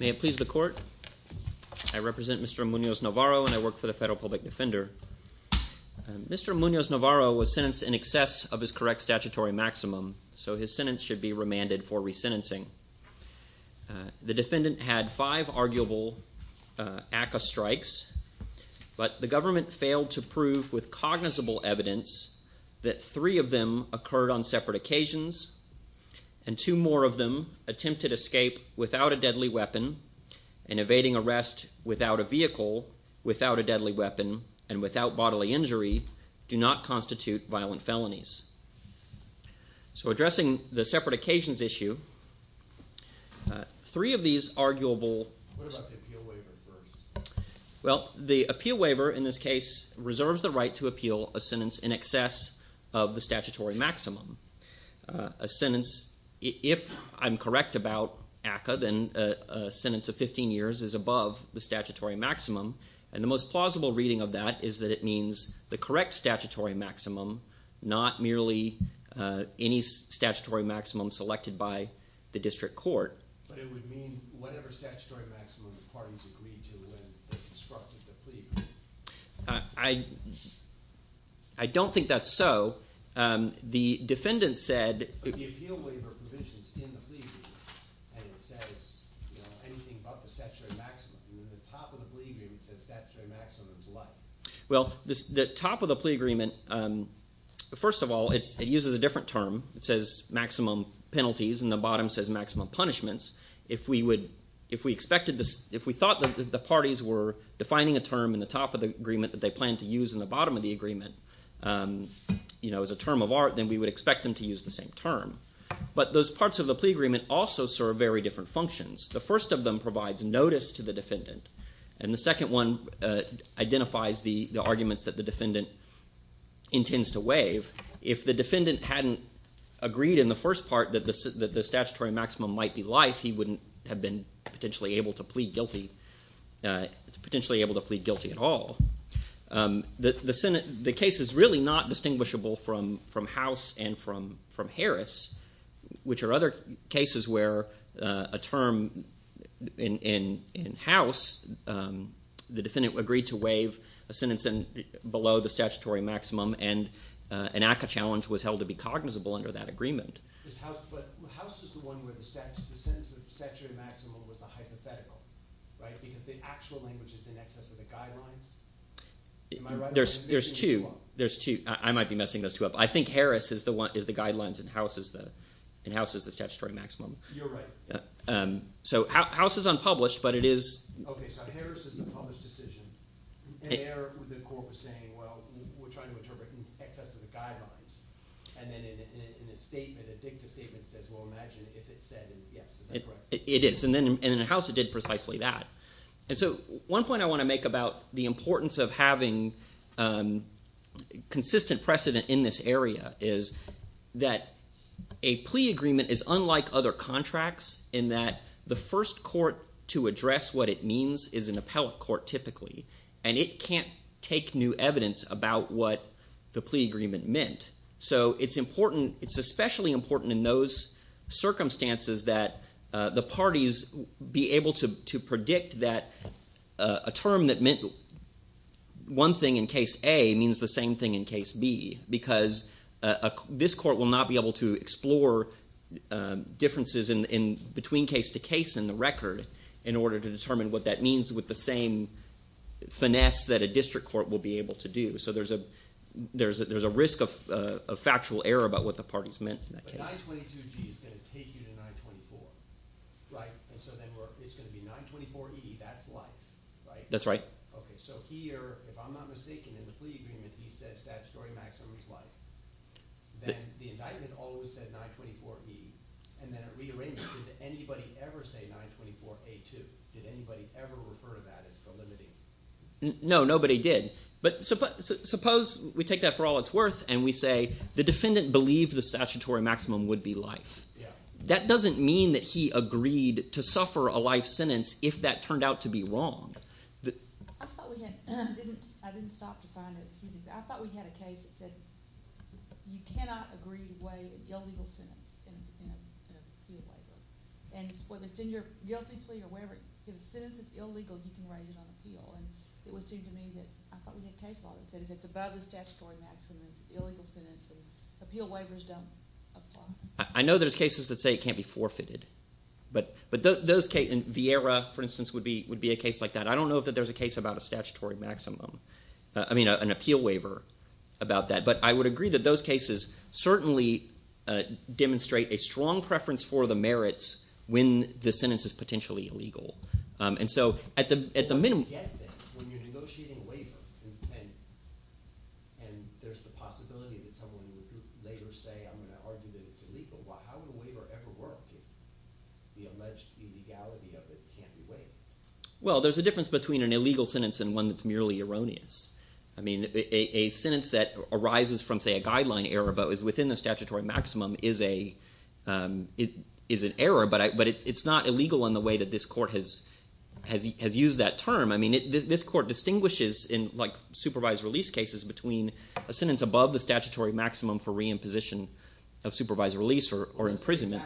May it please the court, I represent Mr. Munoz-Navarro and I work for the Federal Public Defender. Mr. Munoz-Navarro was sentenced in excess of his correct statutory maximum, so his sentence should be remanded for resentencing. The defendant had five arguable ACCA strikes, but the government failed to prove with cognizable evidence that three of them occurred on separate occasions, and two more of them attempted escape without a deadly weapon, and evading arrest without a vehicle, without a deadly weapon, and without bodily injury, do not constitute violent felonies. So addressing the separate occasions issue, three of these arguable... Well, the appeal waiver in this case reserves the right to appeal a sentence in excess of the statutory maximum. A sentence, if I'm correct about ACCA, then a sentence of 15 years is above the statutory maximum, and the most plausible reading of that is that it means the correct statutory maximum, not merely any statutory maximum selected by the district court. But it would mean whatever statutory maximum the parties agreed to when they constructed the plea agreement. I don't think that's so. The defendant said... The appeal waiver provisions in the plea agreement, and it says, you know, anything above the statutory maximum, and in the top of the plea agreement it says statutory maximum is life. Well, the top of the plea agreement, first of all, it uses a different term, it says maximum punishments. If we would... If we expected this... If we thought that the parties were defining a term in the top of the agreement that they planned to use in the bottom of the agreement, you know, as a term of art, then we would expect them to use the same term. But those parts of the plea agreement also serve very different functions. The first of them provides notice to the defendant, and the second one identifies the arguments that the defendant intends to waive. If the defendant hadn't agreed in the first part that the statutory maximum might be life, he wouldn't have been potentially able to plead guilty, potentially able to plead guilty at all. The case is really not distinguishable from House and from Harris, which are other cases where a term in House, the defendant agreed to waive a sentence below the statutory maximum and an ACCA challenge was held to be cognizable under that agreement. But House is the one where the sentence of statutory maximum was the hypothetical, right? Because the actual language is in excess of the guidelines? Am I right? There's two. There's two. I might be messing those two up. I think Harris is the guidelines and House is the statutory maximum. You're right. So, House is unpublished, but it is... Okay, so Harris is the published decision, and there the court was saying, well, we're trying to interpret in excess of the guidelines. And then in a statement, a dicta statement says, well, imagine if it said yes. Is that correct? It is. And then in House, it did precisely that. And so, one point I want to make about the importance of having consistent precedent in this area is that a plea agreement is unlike other contracts in that the first court to address what it means is an appellate court, typically, and it can't take new evidence about what the plea agreement meant. So it's important, it's especially important in those circumstances that the parties be able to predict that a term that meant one thing in case A means the same thing in case B because this court will not be able to explore differences between case to case in the record in order to determine what that means with the same finesse that a district court will be able to do. So there's a risk of factual error about what the parties meant in that case. But 922G is going to take you to 924, right? And so then it's going to be 924E, that's life, right? That's right. Okay. So here, if I'm not mistaken, in the plea agreement, he said statutory maximum is life. Then the indictment always said 924E. And then at rearrangement, did anybody ever say 924A2? Did anybody ever refer to that as the limiting? No, nobody did. But suppose we take that for all it's worth and we say the defendant believed the statutory maximum would be life. That doesn't mean that he agreed to suffer a life sentence if that turned out to be wrong. I thought we had a case that said you cannot agree to waive an illegal sentence in an appeal waiver. And whether it's in your guilty plea or whatever, if a sentence is illegal, you can raise it on appeal. And it would seem to me that I thought we had a case law that said if it's above the statutory maximum, it's an illegal sentence, and appeal waivers don't apply. I know there's cases that say it can't be forfeited. But those cases, and Vieira, for instance, would be a case like that. I don't know that there's a case about a statutory maximum, I mean, an appeal waiver about that. But I would agree that those cases certainly demonstrate a strong preference for the merits when the sentence is potentially illegal. And so at the minimum... Well, there's a difference between an illegal sentence and one that's merely erroneous. I mean, a sentence that arises from, say, a guideline error but is within the statutory maximum is an error. But it's not illegal in the way that this court has used that term. I mean, this court distinguishes in, like, supervised release cases between a sentence above the statutory maximum for re-imposition of supervised release or imprisonment.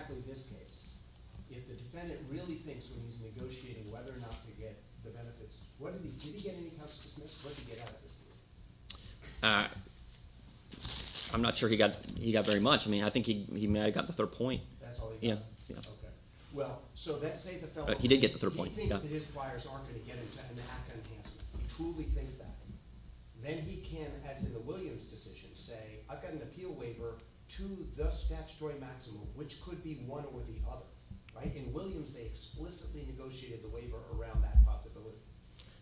I'm not sure he got very much. I mean, I think he got the third point. He did get the third point. Then he can, as in the Williams decision, say, I've got an appeal waiver to the statutory maximum, which could be one or the other. In Williams, they explicitly negotiated the waiver around that possibility.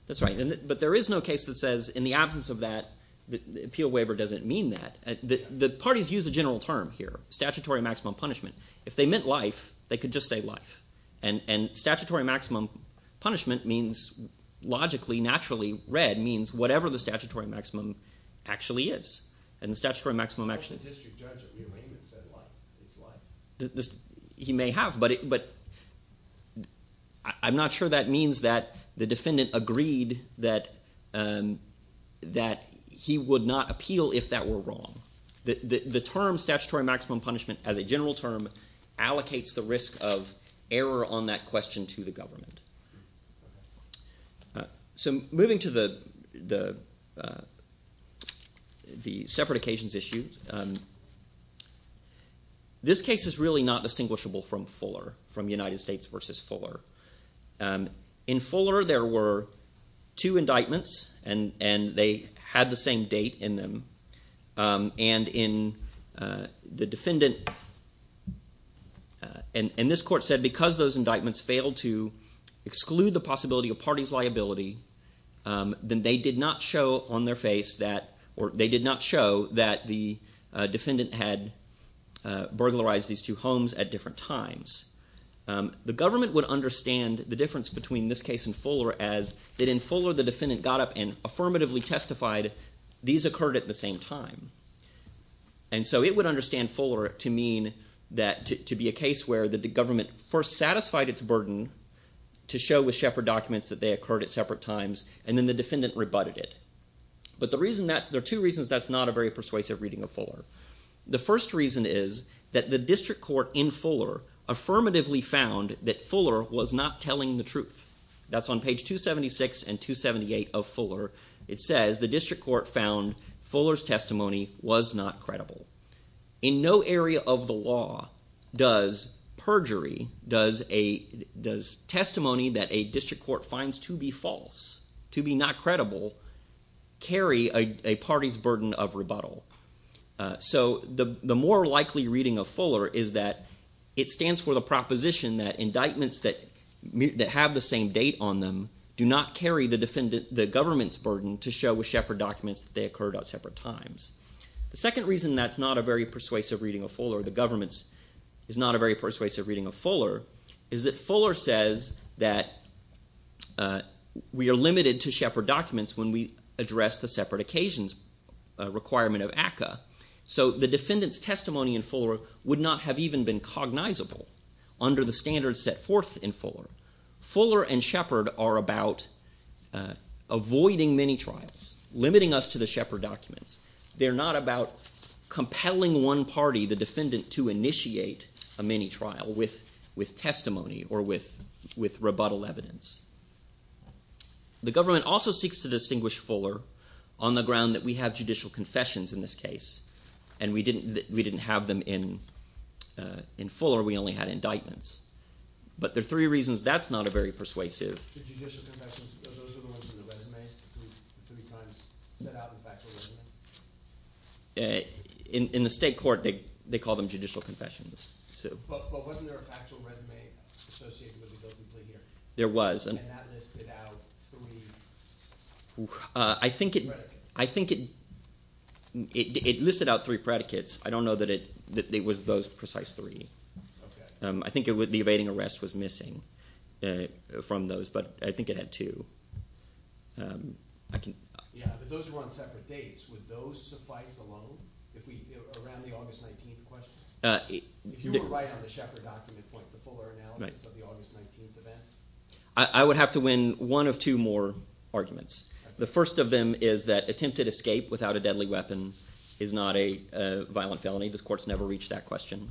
That's right. But there is no case that says, in the absence of that, the appeal waiver doesn't mean that. The parties use a general term here, statutory maximum punishment. If they meant life, they could just say life. And statutory maximum punishment means logically, naturally, red, means whatever the statutory maximum actually is. And the statutory maximum actually… The district judge said life. It's life. He may have, but I'm not sure that means that the defendant agreed that he would not appeal if that were wrong. The term statutory maximum punishment, as a general term, allocates the risk of error on that question to the government. So moving to the separate occasions issue, this case is really not distinguishable from Fuller, from United States versus Fuller. In Fuller, there were two indictments, and they had the same date in them. And in the defendant… And this court said because those indictments failed to exclude the possibility of parties' liability, then they did not show on their face that… Or they did not show that the defendant had burglarized these two homes at different times. The government would understand the difference between this case and Fuller as that in Fuller, when the defendant got up and affirmatively testified, these occurred at the same time. And so it would understand Fuller to mean that to be a case where the government first satisfied its burden to show with Shepard documents that they occurred at separate times, and then the defendant rebutted it. But the reason that… There are two reasons that's not a very persuasive reading of Fuller. The first reason is that the district court in Fuller affirmatively found that Fuller was not telling the truth. That's on page 276 and 278 of Fuller. It says the district court found Fuller's testimony was not credible. In no area of the law does perjury, does testimony that a district court finds to be false, to be not credible, carry a party's burden of rebuttal. So the more likely reading of Fuller is that it stands for the proposition that indictments that have the same date on them do not carry the government's burden to show with Shepard documents that they occurred at separate times. The second reason that's not a very persuasive reading of Fuller, the government's is not a very persuasive reading of Fuller, is that Fuller says that we are limited to Shepard documents when we address the separate occasions requirement of ACCA. So the defendant's testimony in Fuller would not have even been cognizable under the standards set forth in Fuller. Fuller and Shepard are about avoiding mini-trials, limiting us to the Shepard documents. They're not about compelling one party, the defendant, to initiate a mini-trial with testimony or with rebuttal evidence. The government also seeks to distinguish Fuller on the ground that we have judicial confessions in this case, and we didn't have them in Fuller. We only had indictments. But there are three reasons that's not a very persuasive. The judicial confessions, those are the ones in the resumes, the three times set out in the factual resume? In the state court, they call them judicial confessions. But wasn't there a factual resume associated with the guilty plea here? There was. And that listed out three predicates? I think it listed out three predicates. I don't know that it was those precise three. I think the evading arrest was missing from those, but I think it had two. Yeah, but those were on separate dates. Would those suffice alone, around the August 19th question? If you were right on the Shepard document point, the Fuller analysis of the August 19th events? I would have to win one of two more arguments. The first of them is that attempted escape without a deadly weapon is not a violent felony. The court's never reached that question.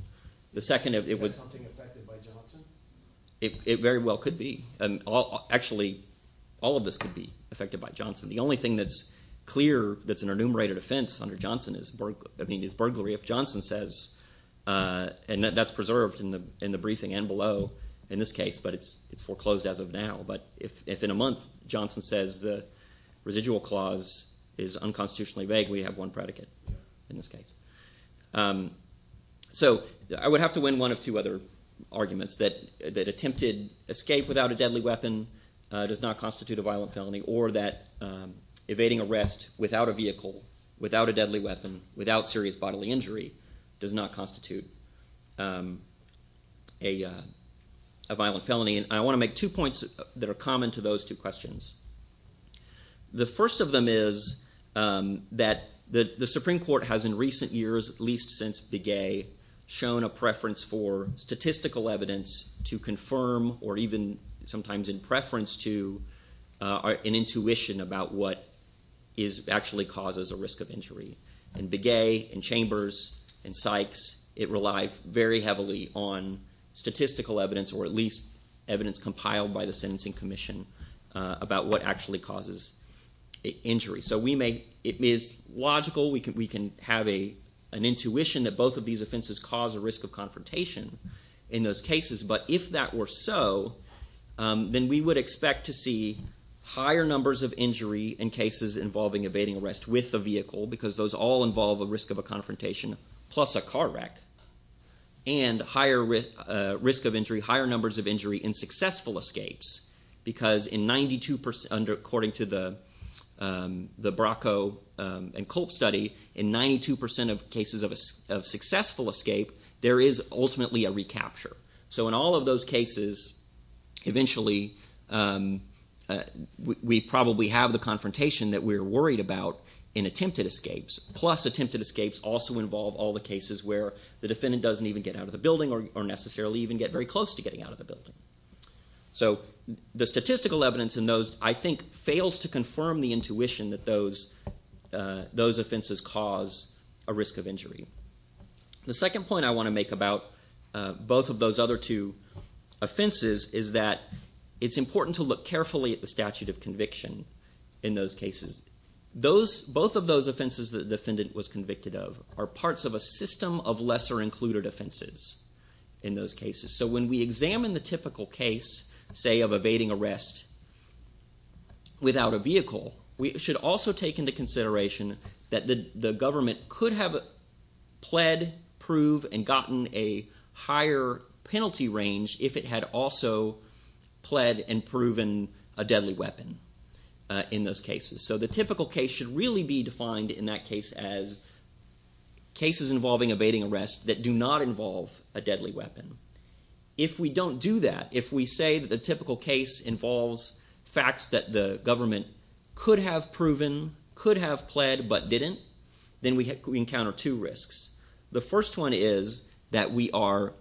Is that something affected by Johnson? It very well could be. Actually, all of this could be affected by Johnson. The only thing that's clear that's an enumerated offense under Johnson is burglary. If Johnson says, and that's preserved in the briefing and below in this case, but it's foreclosed as of now. But if in a month Johnson says the residual clause is unconstitutionally vague, we have one predicate in this case. So I would have to win one of two other arguments. That attempted escape without a deadly weapon does not constitute a violent felony, or that evading arrest without a vehicle, without a deadly weapon, without serious bodily injury does not constitute a violent felony. And I want to make two points that are common to those two questions. The first of them is that the Supreme Court has in recent years, at least since Begay, shown a preference for statistical evidence to confirm, or even sometimes in preference to, an intuition about what actually causes a risk of injury. In Begay, in Chambers, in Sykes, it relied very heavily on statistical evidence, or at least evidence compiled by the Sentencing Commission about what actually causes injury. So we may, it is logical, we can have an intuition that both of these offenses cause a risk of confrontation in those cases. But if that were so, then we would expect to see higher numbers of injury in cases involving evading arrest with a vehicle, because those all involve a risk of a confrontation, plus a car wreck. And higher risk of injury, higher numbers of injury in successful escapes, because in 92%, according to the Bracco and Kolb study, in 92% of cases of successful escape, there is ultimately a recapture. So in all of those cases, eventually, we probably have the confrontation that we're worried about in attempted escapes, plus attempted escapes also involve all the cases where the defendant doesn't even get out of the building, or necessarily even get very close to getting out of the building. So the statistical evidence in those, I think, fails to confirm the intuition that those offenses cause a risk of injury. The second point I want to make about both of those other two offenses is that it's important to look carefully at the statute of conviction in those cases. Both of those offenses the defendant was convicted of are parts of a system of lesser included offenses in those cases. So when we examine the typical case, say, of evading arrest without a vehicle, we should also take into consideration that the government could have pled, prove, and gotten a higher penalty range if it had also pled and proven a deadly weapon in those cases. So the typical case should really be defined in that case as cases involving evading arrest that do not involve a deadly weapon. If we don't do that, if we say that the typical case involves facts that the government could have proven, could have pled, but didn't, then we encounter two risks. The first one is that we are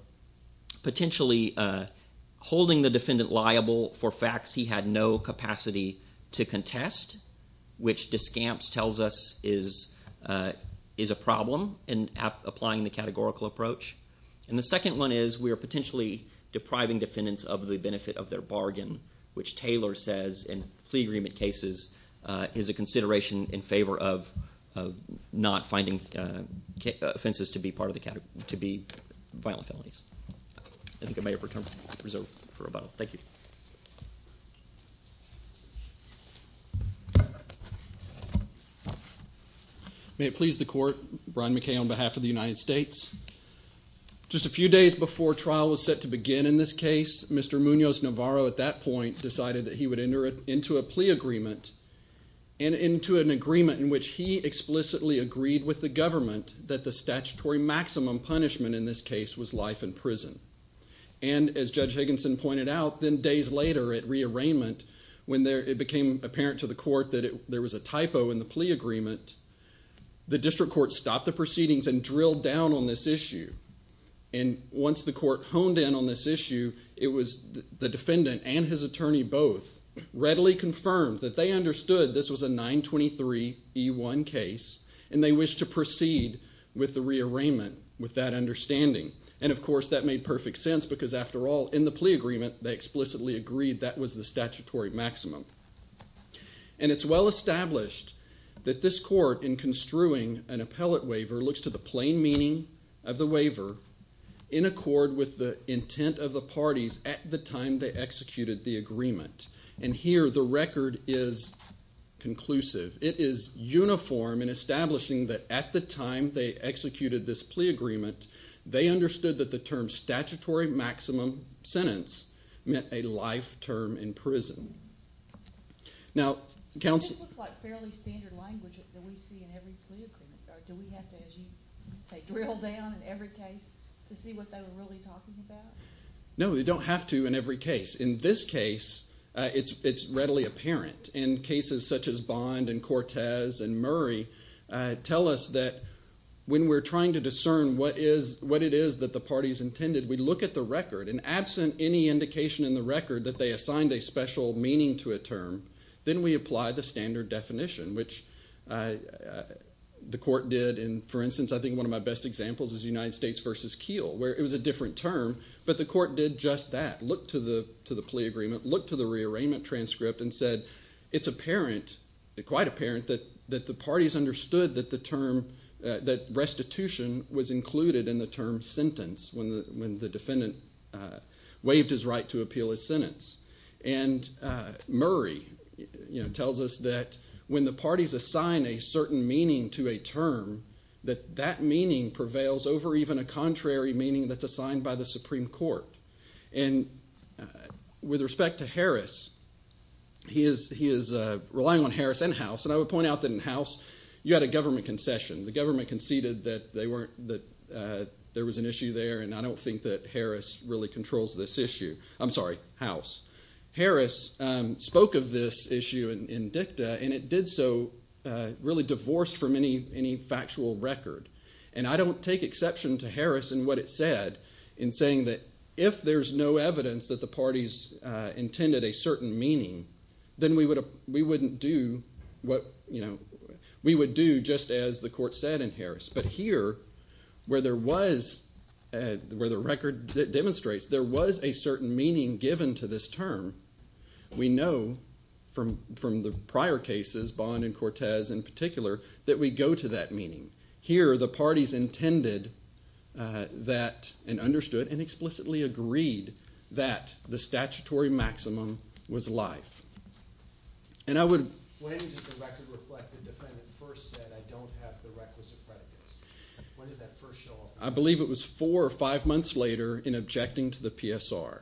potentially holding the defendant liable for facts he had no capacity to contest, which Descamps tells us is a problem in applying the categorical approach. And the second one is we are potentially depriving defendants of the benefit of their bargain, which Taylor says in plea agreement cases is a consideration in favor of not finding offenses to be violent felonies. I think I may have returned my reserve for rebuttal. Thank you. May it please the court, Brian McKay on behalf of the United States. Just a few days before trial was set to begin in this case, Mr. Munoz-Navarro at that point decided that he would enter into a plea agreement and into an agreement in which he explicitly agreed with the government that the statutory maximum punishment in this case was life in prison. And as Judge Higginson pointed out, then days later at rearrangement, when it became apparent to the court that there was a typo in the plea agreement, the district court stopped the proceedings and drilled down on this issue. And once the court honed in on this issue, it was the defendant and his attorney both readily confirmed that they understood this was a 923E1 case and they wished to proceed with the rearrangement with that understanding. And, of course, that made perfect sense because, after all, in the plea agreement, they explicitly agreed that was the statutory maximum. And it's well established that this court, in construing an appellate waiver, looks to the plain meaning of the waiver in accord with the intent of the parties at the time they executed the agreement. And here the record is conclusive. It is uniform in establishing that at the time they executed this plea agreement, they understood that the term statutory maximum sentence meant a life term in prison. Now, counsel... This looks like fairly standard language that we see in every plea agreement. Do we have to, as you say, drill down in every case to see what they were really talking about? No, you don't have to in every case. In this case, it's readily apparent. And cases such as Bond and Cortez and Murray tell us that when we're trying to discern what it is that the parties intended, we look at the record. And absent any indication in the record that they assigned a special meaning to a term, then we apply the standard definition, which the court did. And, for instance, I think one of my best examples is United States v. Keele, where it was a different term, but the court did just that, looked to the plea agreement, looked to the rearrangement transcript, and said it's apparent, quite apparent, that the parties understood that the term, that restitution was included in the term sentence when the defendant waived his right to appeal his sentence. And Murray tells us that when the parties assign a certain meaning to a term, that that meaning prevails over even a contrary meaning that's assigned by the Supreme Court. And with respect to Harris, he is relying on Harris and House, and I would point out that in House you had a government concession. The government conceded that there was an issue there, and I don't think that Harris really controls this issue. I'm sorry, House. Harris spoke of this issue in dicta, and it did so really divorced from any factual record. And I don't take exception to Harris in what it said, in saying that if there's no evidence that the parties intended a certain meaning, then we wouldn't do what, you know, we would do just as the court said in Harris. But here, where there was, where the record demonstrates there was a certain meaning given to this term, we know from the prior cases, Bond and Cortez in particular, that we go to that meaning. Here, the parties intended that and understood and explicitly agreed that the statutory maximum was life. And I would – When does the record reflect the defendant first said, I don't have the requisite predicates? When does that first show up? I believe it was four or five months later in objecting to the PSR.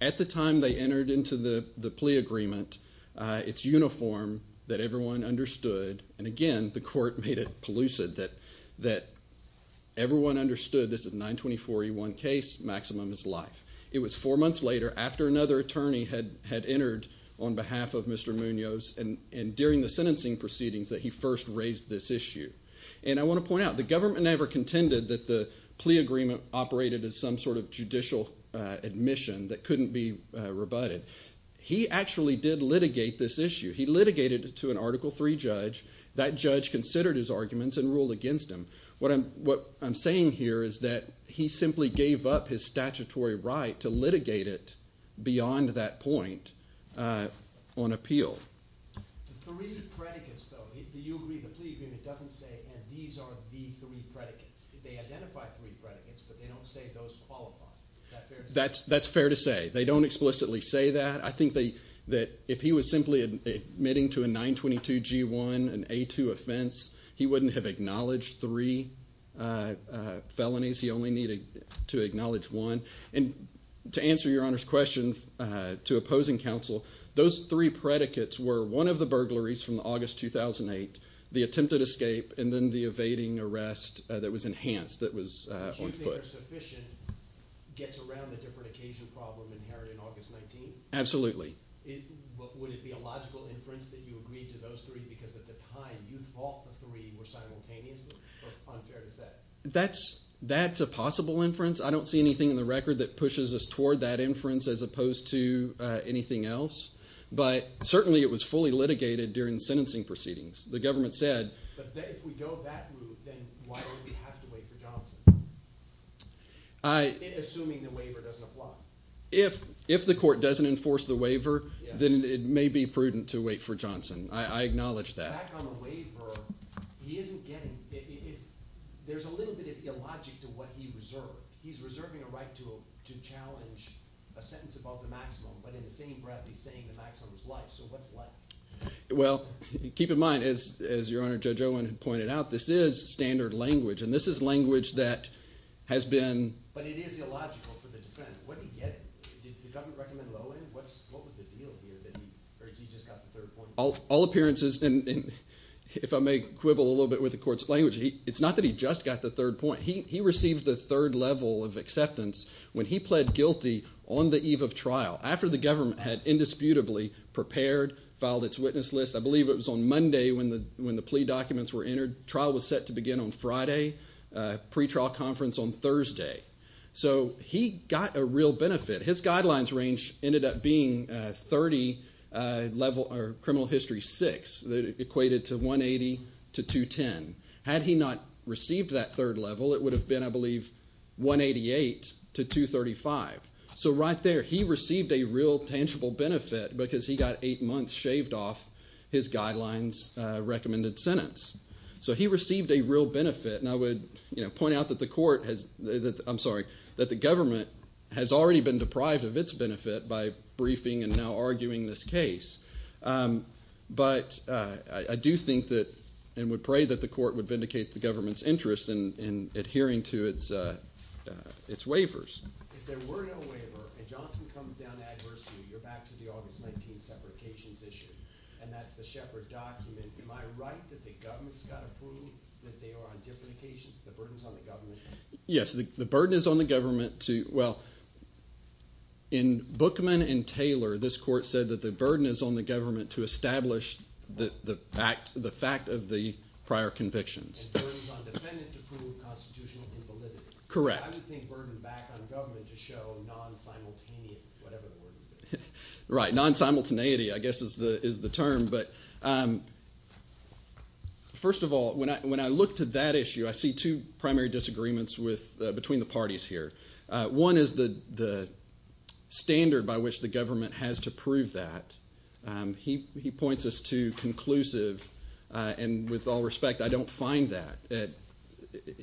At the time they entered into the plea agreement, it's uniform that everyone understood, and again, the court made it pellucid that everyone understood this is a 924E1 case, maximum is life. It was four months later, after another attorney had entered on behalf of Mr. Munoz, and during the sentencing proceedings that he first raised this issue. And I want to point out, the government never contended that the plea agreement operated as some sort of judicial admission that couldn't be rebutted. He actually did litigate this issue. He litigated it to an Article III judge. That judge considered his arguments and ruled against him. What I'm saying here is that he simply gave up his statutory right to litigate it beyond that point on appeal. The three predicates, though, the plea agreement doesn't say, and these are the three predicates. They identify three predicates, but they don't say those qualify. Is that fair to say? That's fair to say. They don't explicitly say that. I think that if he was simply admitting to a 922G1, an A2 offense, he wouldn't have acknowledged three felonies. He only needed to acknowledge one. And to answer Your Honor's question, to opposing counsel, those three predicates were one of the burglaries from August 2008, the attempted escape, and then the evading arrest that was enhanced, that was on foot. So whether sufficient gets around the different occasion problem inherited in August 19? Absolutely. Would it be a logical inference that you agreed to those three, because at the time you thought the three were simultaneous? Or unfair to say? That's a possible inference. I don't see anything in the record that pushes us toward that inference as opposed to anything else. But certainly it was fully litigated during the sentencing proceedings. But if we go that route, then why would we have to wait for Johnson? Assuming the waiver doesn't apply. If the court doesn't enforce the waiver, then it may be prudent to wait for Johnson. I acknowledge that. Back on the waiver, he isn't getting – there's a little bit of illogic to what he reserved. He's reserving a right to challenge a sentence above the maximum, but in the same breath he's saying the maximum is life. So what's life? Well, keep in mind, as Your Honor, Judge Owen had pointed out, this is standard language, and this is language that has been – But it is illogical for the defendant. What did he get? Did the government recommend low end? What was the deal here that he just got the third point? All appearances, and if I may quibble a little bit with the court's language, it's not that he just got the third point. He received the third level of acceptance when he pled guilty on the eve of trial, after the government had indisputably prepared, filed its witness list. I believe it was on Monday when the plea documents were entered. Trial was set to begin on Friday. Pre-trial conference on Thursday. So he got a real benefit. His guidelines range ended up being 30 level – or criminal history, six. It equated to 180 to 210. Had he not received that third level, it would have been, I believe, 188 to 235. So right there, he received a real tangible benefit because he got eight months shaved off his guidelines recommended sentence. So he received a real benefit, and I would point out that the court has – I'm sorry, that the government has already been deprived of its benefit by briefing and now arguing this case. But I do think that – and would pray that the court would vindicate the government's interest in adhering to its waivers. If there were no waiver and Johnson comes down to adversity, you're back to the August 19th separations issue, and that's the Shepard document. Am I right that the government's got to prove that they are on different occasions? The burden's on the government? Yes, the burden is on the government to – well, in Bookman and Taylor, this court said that the burden is on the government to establish the fact of the prior convictions. And the burden's on the defendant to prove constitutional invalidity. Correct. I would think burden back on government to show non-simultaneity, whatever the word is. Right. Non-simultaneity, I guess, is the term. But first of all, when I look to that issue, I see two primary disagreements between the parties here. One is the standard by which the government has to prove that. He points us to conclusive, and with all respect, I don't find that.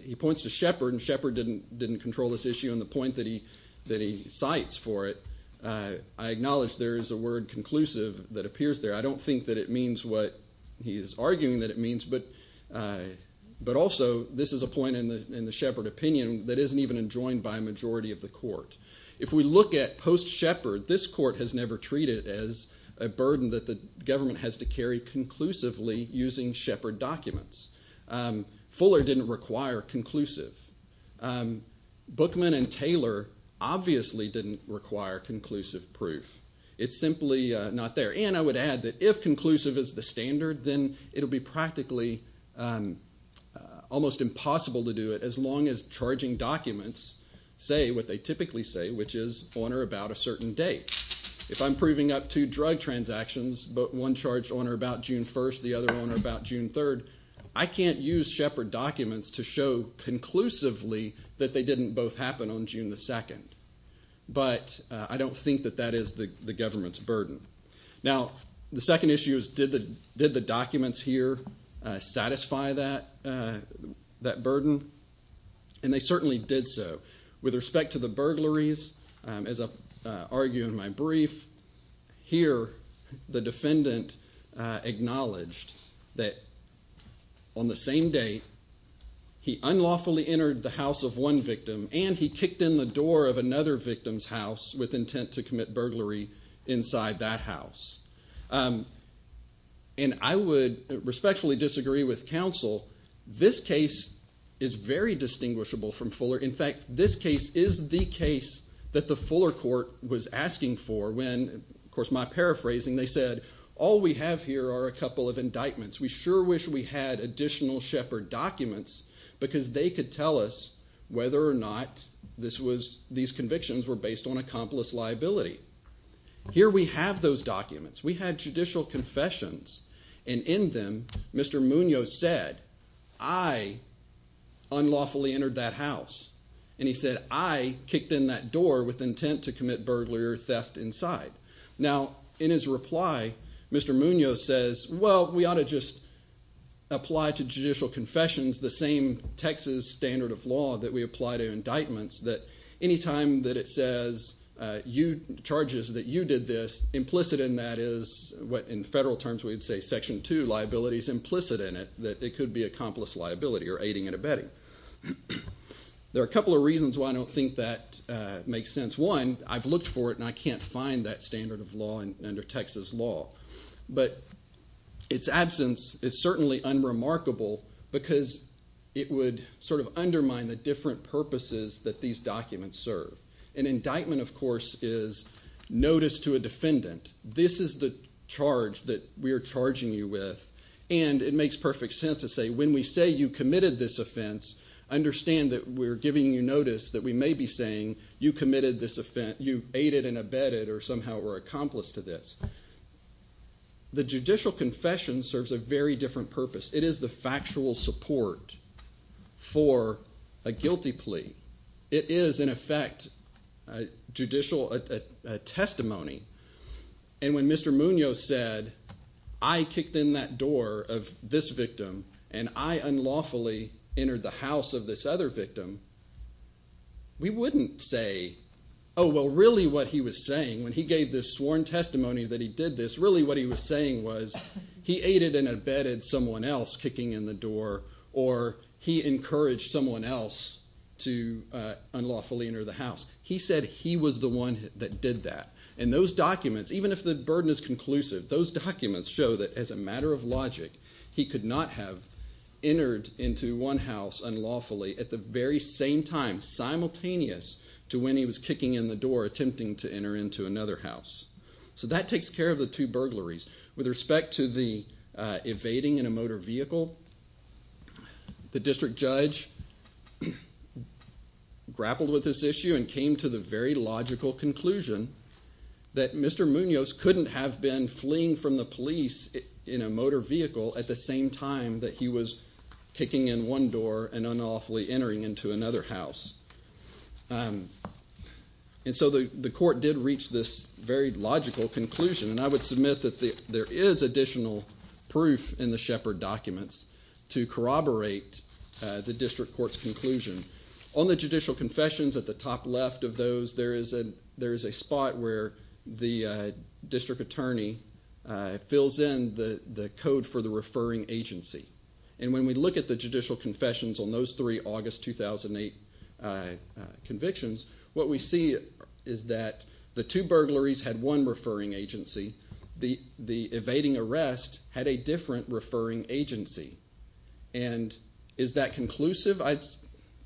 He points to Shepard, and Shepard didn't control this issue on the point that he cites for it. I acknowledge there is a word conclusive that appears there. I don't think that it means what he is arguing that it means, but also this is a point in the Shepard opinion that isn't even enjoined by a majority of the court. If we look at post-Shepard, this court has never treated it as a burden that the government has to carry conclusively using Shepard documents. Fuller didn't require conclusive. Bookman and Taylor obviously didn't require conclusive proof. It's simply not there, and I would add that if conclusive is the standard, then it will be practically almost impossible to do it as long as charging documents say what they typically say, which is on or about a certain date. If I'm proving up two drug transactions, but one charged on or about June 1st, the other on or about June 3rd, I can't use Shepard documents to show conclusively that they didn't both happen on June 2nd, but I don't think that that is the government's burden. Now, the second issue is did the documents here satisfy that burden, and they certainly did so. With respect to the burglaries, as I argue in my brief, here the defendant acknowledged that on the same day he unlawfully entered the house of one victim and he kicked in the door of another victim's house with intent to commit burglary inside that house. And I would respectfully disagree with counsel. This case is very distinguishable from Fuller. In fact, this case is the case that the Fuller court was asking for when, of course my paraphrasing, they said all we have here are a couple of indictments. We sure wish we had additional Shepard documents because they could tell us whether or not these convictions were based on accomplice liability. Here we have those documents. We had judicial confessions, and in them Mr. Munoz said, I unlawfully entered that house. And he said, I kicked in that door with intent to commit burglary or theft inside. Now, in his reply, Mr. Munoz says, well, we ought to just apply to judicial confessions the same Texas standard of law that we apply to indictments, that any time that it says charges that you did this, implicit in that is what in federal terms we would say section 2 liability is implicit in it, that it could be accomplice liability or aiding and abetting. There are a couple of reasons why I don't think that makes sense. One, I've looked for it and I can't find that standard of law under Texas law. But its absence is certainly unremarkable because it would sort of undermine the different purposes that these documents serve. An indictment, of course, is notice to a defendant. This is the charge that we are charging you with, and it makes perfect sense to say when we say you committed this offense, understand that we're giving you notice that we may be saying you committed this offense, you aided and abetted or somehow were accomplice to this. The judicial confession serves a very different purpose. It is the factual support for a guilty plea. It is, in effect, a judicial testimony. And when Mr. Munoz said I kicked in that door of this victim and I unlawfully entered the house of this other victim, we wouldn't say, oh, well, really what he was saying when he gave this sworn testimony that he did this, really what he was saying was he aided and abetted someone else kicking in the door, or he encouraged someone else to unlawfully enter the house. He said he was the one that did that. And those documents, even if the burden is conclusive, those documents show that as a matter of logic, he could not have entered into one house unlawfully at the very same time, simultaneous to when he was kicking in the door attempting to enter into another house. So that takes care of the two burglaries. With respect to the evading in a motor vehicle, the district judge grappled with this issue and came to the very logical conclusion that Mr. Munoz couldn't have been fleeing from the police in a motor vehicle at the same time that he was kicking in one door and unlawfully entering into another house. And so the court did reach this very logical conclusion. And I would submit that there is additional proof in the Shepard documents to corroborate the district court's conclusion. On the judicial confessions at the top left of those, there is a spot where the district attorney fills in the code for the referring agency. And when we look at the judicial confessions on those three August 2008 convictions, what we see is that the two burglaries had one referring agency. The evading arrest had a different referring agency. And is that conclusive? I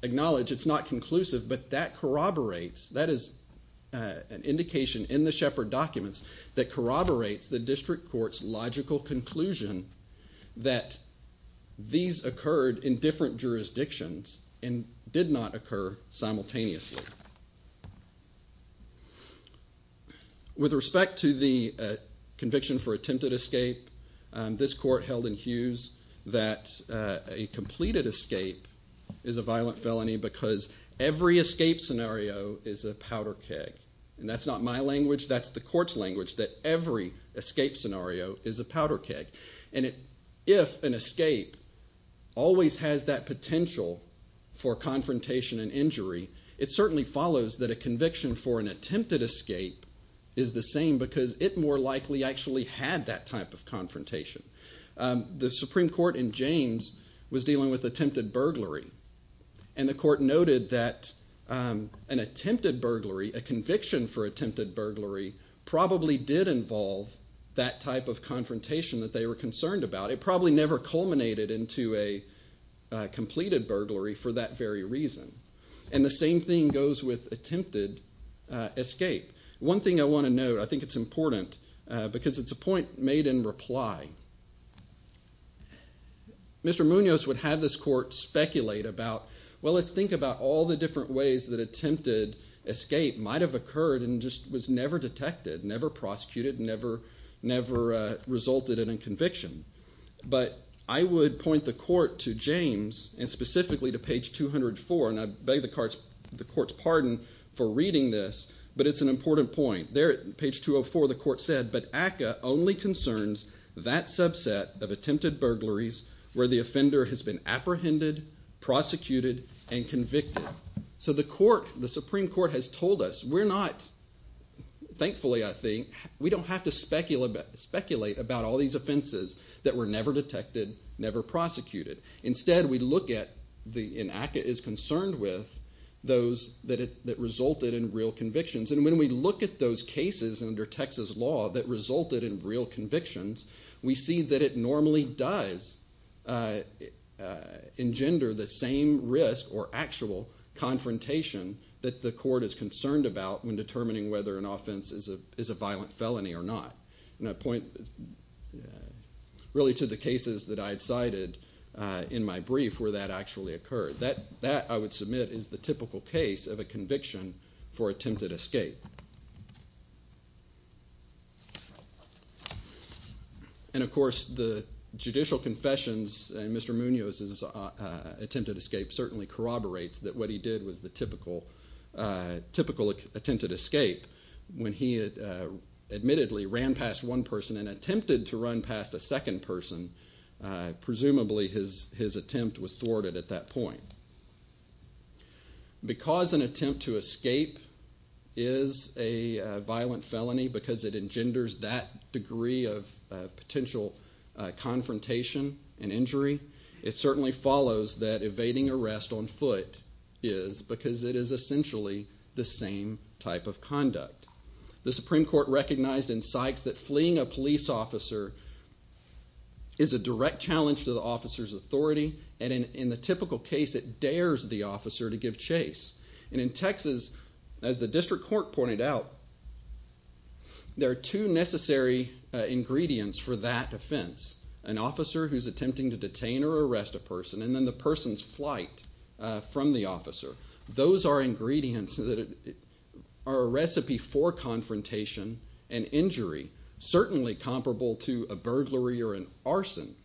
acknowledge it's not conclusive, but that corroborates, that is an indication in the Shepard documents that corroborates the district court's logical conclusion that these occurred in different jurisdictions and did not occur simultaneously. With respect to the conviction for attempted escape, this court held in Hughes that a completed escape is a violent felony because every escape scenario is a powder keg. And that's not my language, that's the court's language, that every escape scenario is a powder keg. And if an escape always has that potential for confrontation and injury, it certainly follows that a conviction for an attempted escape is the same because it more likely actually had that type of confrontation. The Supreme Court in James was dealing with attempted burglary. And the court noted that an attempted burglary, a conviction for attempted burglary, probably did involve that type of confrontation that they were concerned about. It probably never culminated into a completed burglary for that very reason. And the same thing goes with attempted escape. One thing I want to note, I think it's important because it's a point made in reply. Mr. Munoz would have this court speculate about, well, let's think about all the different ways that attempted escape might have occurred and just was never detected, never prosecuted, never resulted in a conviction. But I would point the court to James and specifically to page 204, and I beg the court's pardon for reading this, but it's an important point. There at page 204 the court said, but ACCA only concerns that subset of attempted burglaries where the offender has been apprehended, prosecuted, and convicted. So the court, the Supreme Court has told us we're not, thankfully I think, we don't have to speculate about all these offenses that were never detected, never prosecuted. Instead we look at, and ACCA is concerned with, those that resulted in real convictions. And when we look at those cases under Texas law that resulted in real convictions, we see that it normally does engender the same risk or actual confrontation that the court is concerned about when determining whether an offense is a violent felony or not. And I point really to the cases that I had cited in my brief where that actually occurred. That, I would submit, is the typical case of a conviction for attempted escape. And of course the judicial confessions in Mr. Munoz's attempted escape certainly corroborates that what he did was the typical attempted escape. When he admittedly ran past one person and attempted to run past a second person, presumably his attempt was thwarted at that point. Because an attempt to escape is a violent felony because it engenders that degree of potential confrontation and injury, it certainly follows that evading arrest on foot is because it is essentially the same type of conduct. The Supreme Court recognized in Sykes that fleeing a police officer is a direct challenge to the officer's authority, and in the typical case it dares the officer to give chase. And in Texas, as the district court pointed out, there are two necessary ingredients for that offense. An officer who is attempting to detain or arrest a person, and then the person's flight from the officer. Those are ingredients that are a recipe for confrontation and injury, certainly comparable to a burglary or an arson.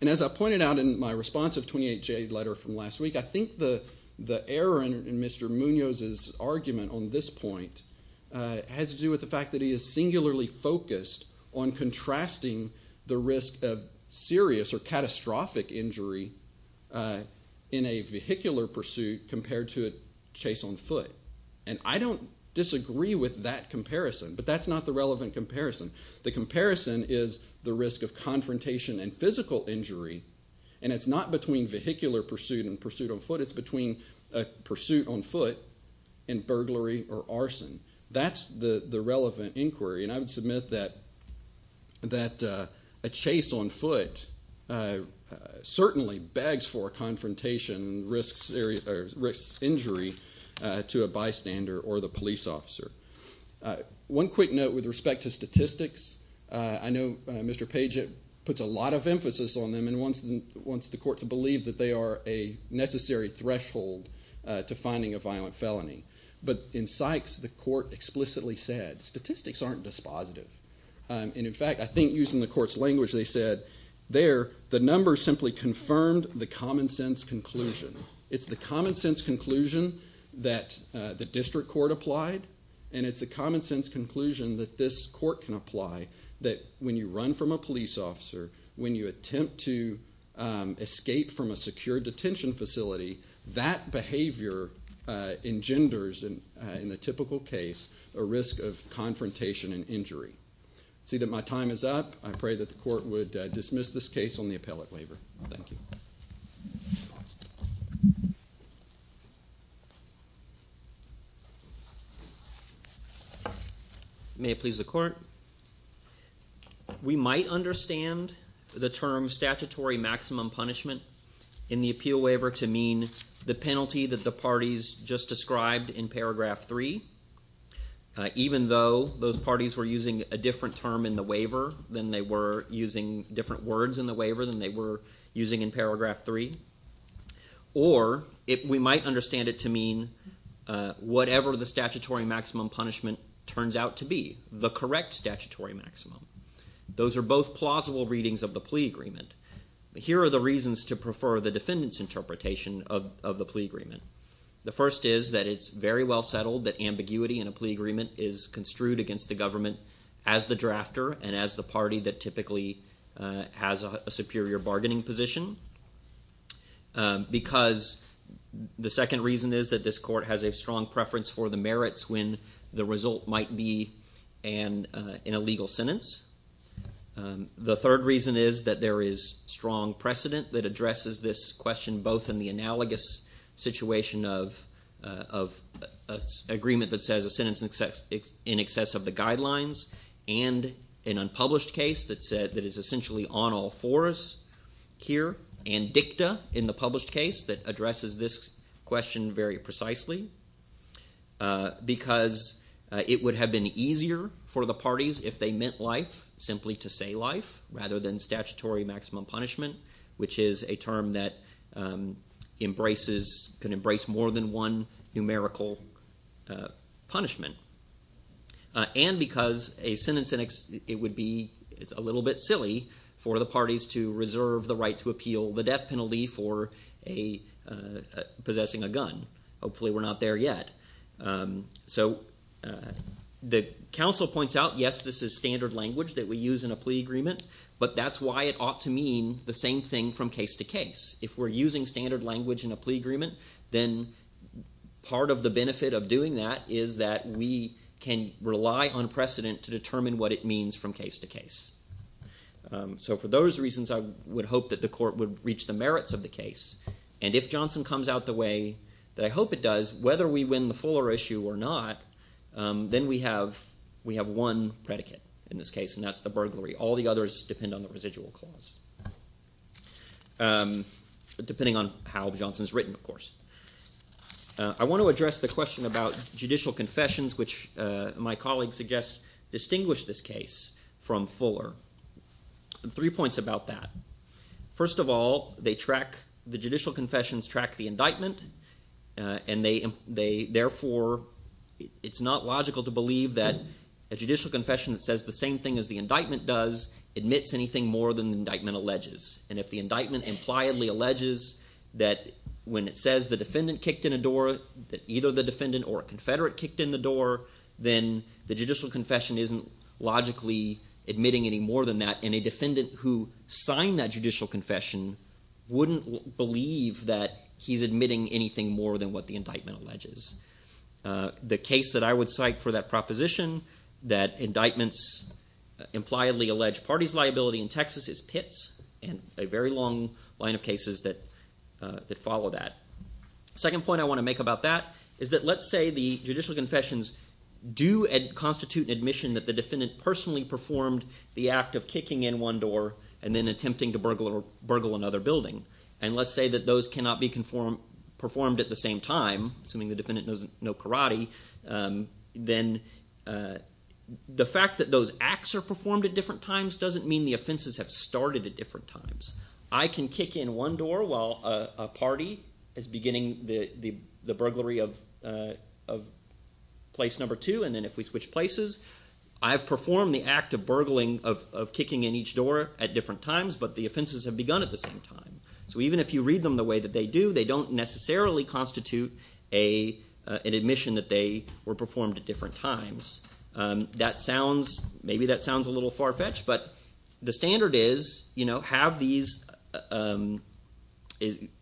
And as I pointed out in my response of 28J letter from last week, I think the error in Mr. Munoz's argument on this point has to do with the fact that he is singularly focused on contrasting the risk of serious or catastrophic injury in a vehicular pursuit compared to a chase on foot. And I don't disagree with that comparison, but that's not the relevant comparison. The comparison is the risk of confrontation and physical injury, and it's not between vehicular pursuit and pursuit on foot, it's between pursuit on foot and burglary or arson. That's the relevant inquiry, and I would submit that a chase on foot certainly begs for a confrontation and risks injury to a bystander or the police officer. One quick note with respect to statistics, I know Mr. Page puts a lot of emphasis on them and wants the court to believe that they are a necessary threshold to finding a violent felony. But in Sykes, the court explicitly said statistics aren't dispositive. And in fact, I think using the court's language, they said there the numbers simply confirmed the common sense conclusion. It's the common sense conclusion that the district court applied, and it's a common sense conclusion that this court can apply that when you run from a police officer, when you attempt to escape from a secure detention facility, that behavior engenders, in the typical case, a risk of confrontation and injury. I see that my time is up. I pray that the court would dismiss this case on the appellate waiver. Thank you. May it please the court. We might understand the term statutory maximum punishment in the appeal waiver to mean the penalty that the parties just described in paragraph three. Even though those parties were using a different term in the waiver than they were using different words in the waiver than they were using in paragraph three. Or we might understand it to mean whatever the statutory maximum punishment turns out to be, the correct statutory maximum. Those are both plausible readings of the plea agreement. Here are the reasons to prefer the defendant's interpretation of the plea agreement. The first is that it's very well settled that ambiguity in a plea agreement is construed against the government as the drafter and as the party that typically has a superior bargaining position. Because the second reason is that this court has a strong preference for the merits when the result might be in a legal sentence. The third reason is that there is strong precedent that addresses this question both in the analogous situation of an agreement that says a sentence in excess of the guidelines and an unpublished case that is essentially on all fours here. And dicta in the published case that addresses this question very precisely. Because it would have been easier for the parties if they meant life simply to say life rather than statutory maximum punishment, which is a term that can embrace more than one numerical punishment. And because a sentence in excess, it would be a little bit silly for the parties to reserve the right to appeal the death penalty for possessing a gun. Hopefully we're not there yet. So the counsel points out, yes, this is standard language that we use in a plea agreement, but that's why it ought to mean the same thing from case to case. If we're using standard language in a plea agreement, then part of the benefit of doing that is that we can rely on precedent to determine what it means from case to case. So for those reasons, I would hope that the court would reach the merits of the case. And if Johnson comes out the way that I hope it does, whether we win the fuller issue or not, then we have one predicate in this case, and that's the burglary. All the others depend on the residual clause, depending on how Johnson's written, of course. I want to address the question about judicial confessions, which my colleague suggests distinguish this case from fuller. Three points about that. First of all, they track – the judicial confessions track the indictment, and they – therefore, it's not logical to believe that a judicial confession that says the same thing as the indictment does admits anything more than the indictment alleges. And if the indictment impliedly alleges that when it says the defendant kicked in a door, that either the defendant or a confederate kicked in the door, then the judicial confession isn't logically admitting any more than that. And a defendant who signed that judicial confession wouldn't believe that he's admitting anything more than what the indictment alleges. The case that I would cite for that proposition, that indictments impliedly allege parties' liability in Texas, is Pitts, and a very long line of cases that follow that. The second point I want to make about that is that let's say the judicial confessions do constitute an admission that the defendant personally performed the act of kicking in one door and then attempting to burgle another building. And let's say that those cannot be performed at the same time, assuming the defendant knows karate, then the fact that those acts are performed at different times doesn't mean the offenses have started at different times. I can kick in one door while a party is beginning the burglary of place number two, and then if we switch places, I've performed the act of burgling, of kicking in each door at different times, but the offenses have begun at the same time. So even if you read them the way that they do, they don't necessarily constitute an admission that they were performed at different times. That sounds, maybe that sounds a little far-fetched, but the standard is, you know, have these,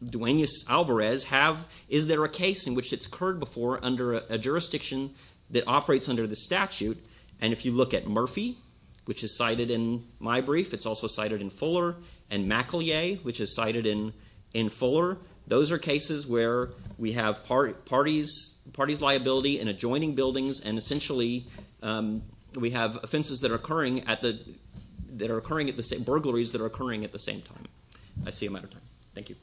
Duenas-Alvarez have, is there a case in which it's occurred before under a jurisdiction that operates under the statute? And if you look at Murphy, which is cited in my brief, it's also cited in Fuller, and McElyea, which is cited in Fuller, those are cases where we have parties' liability in adjoining buildings, and essentially we have offenses that are occurring at the, that are occurring at the same, burglaries that are occurring at the same time. I see a matter of time. Thank you.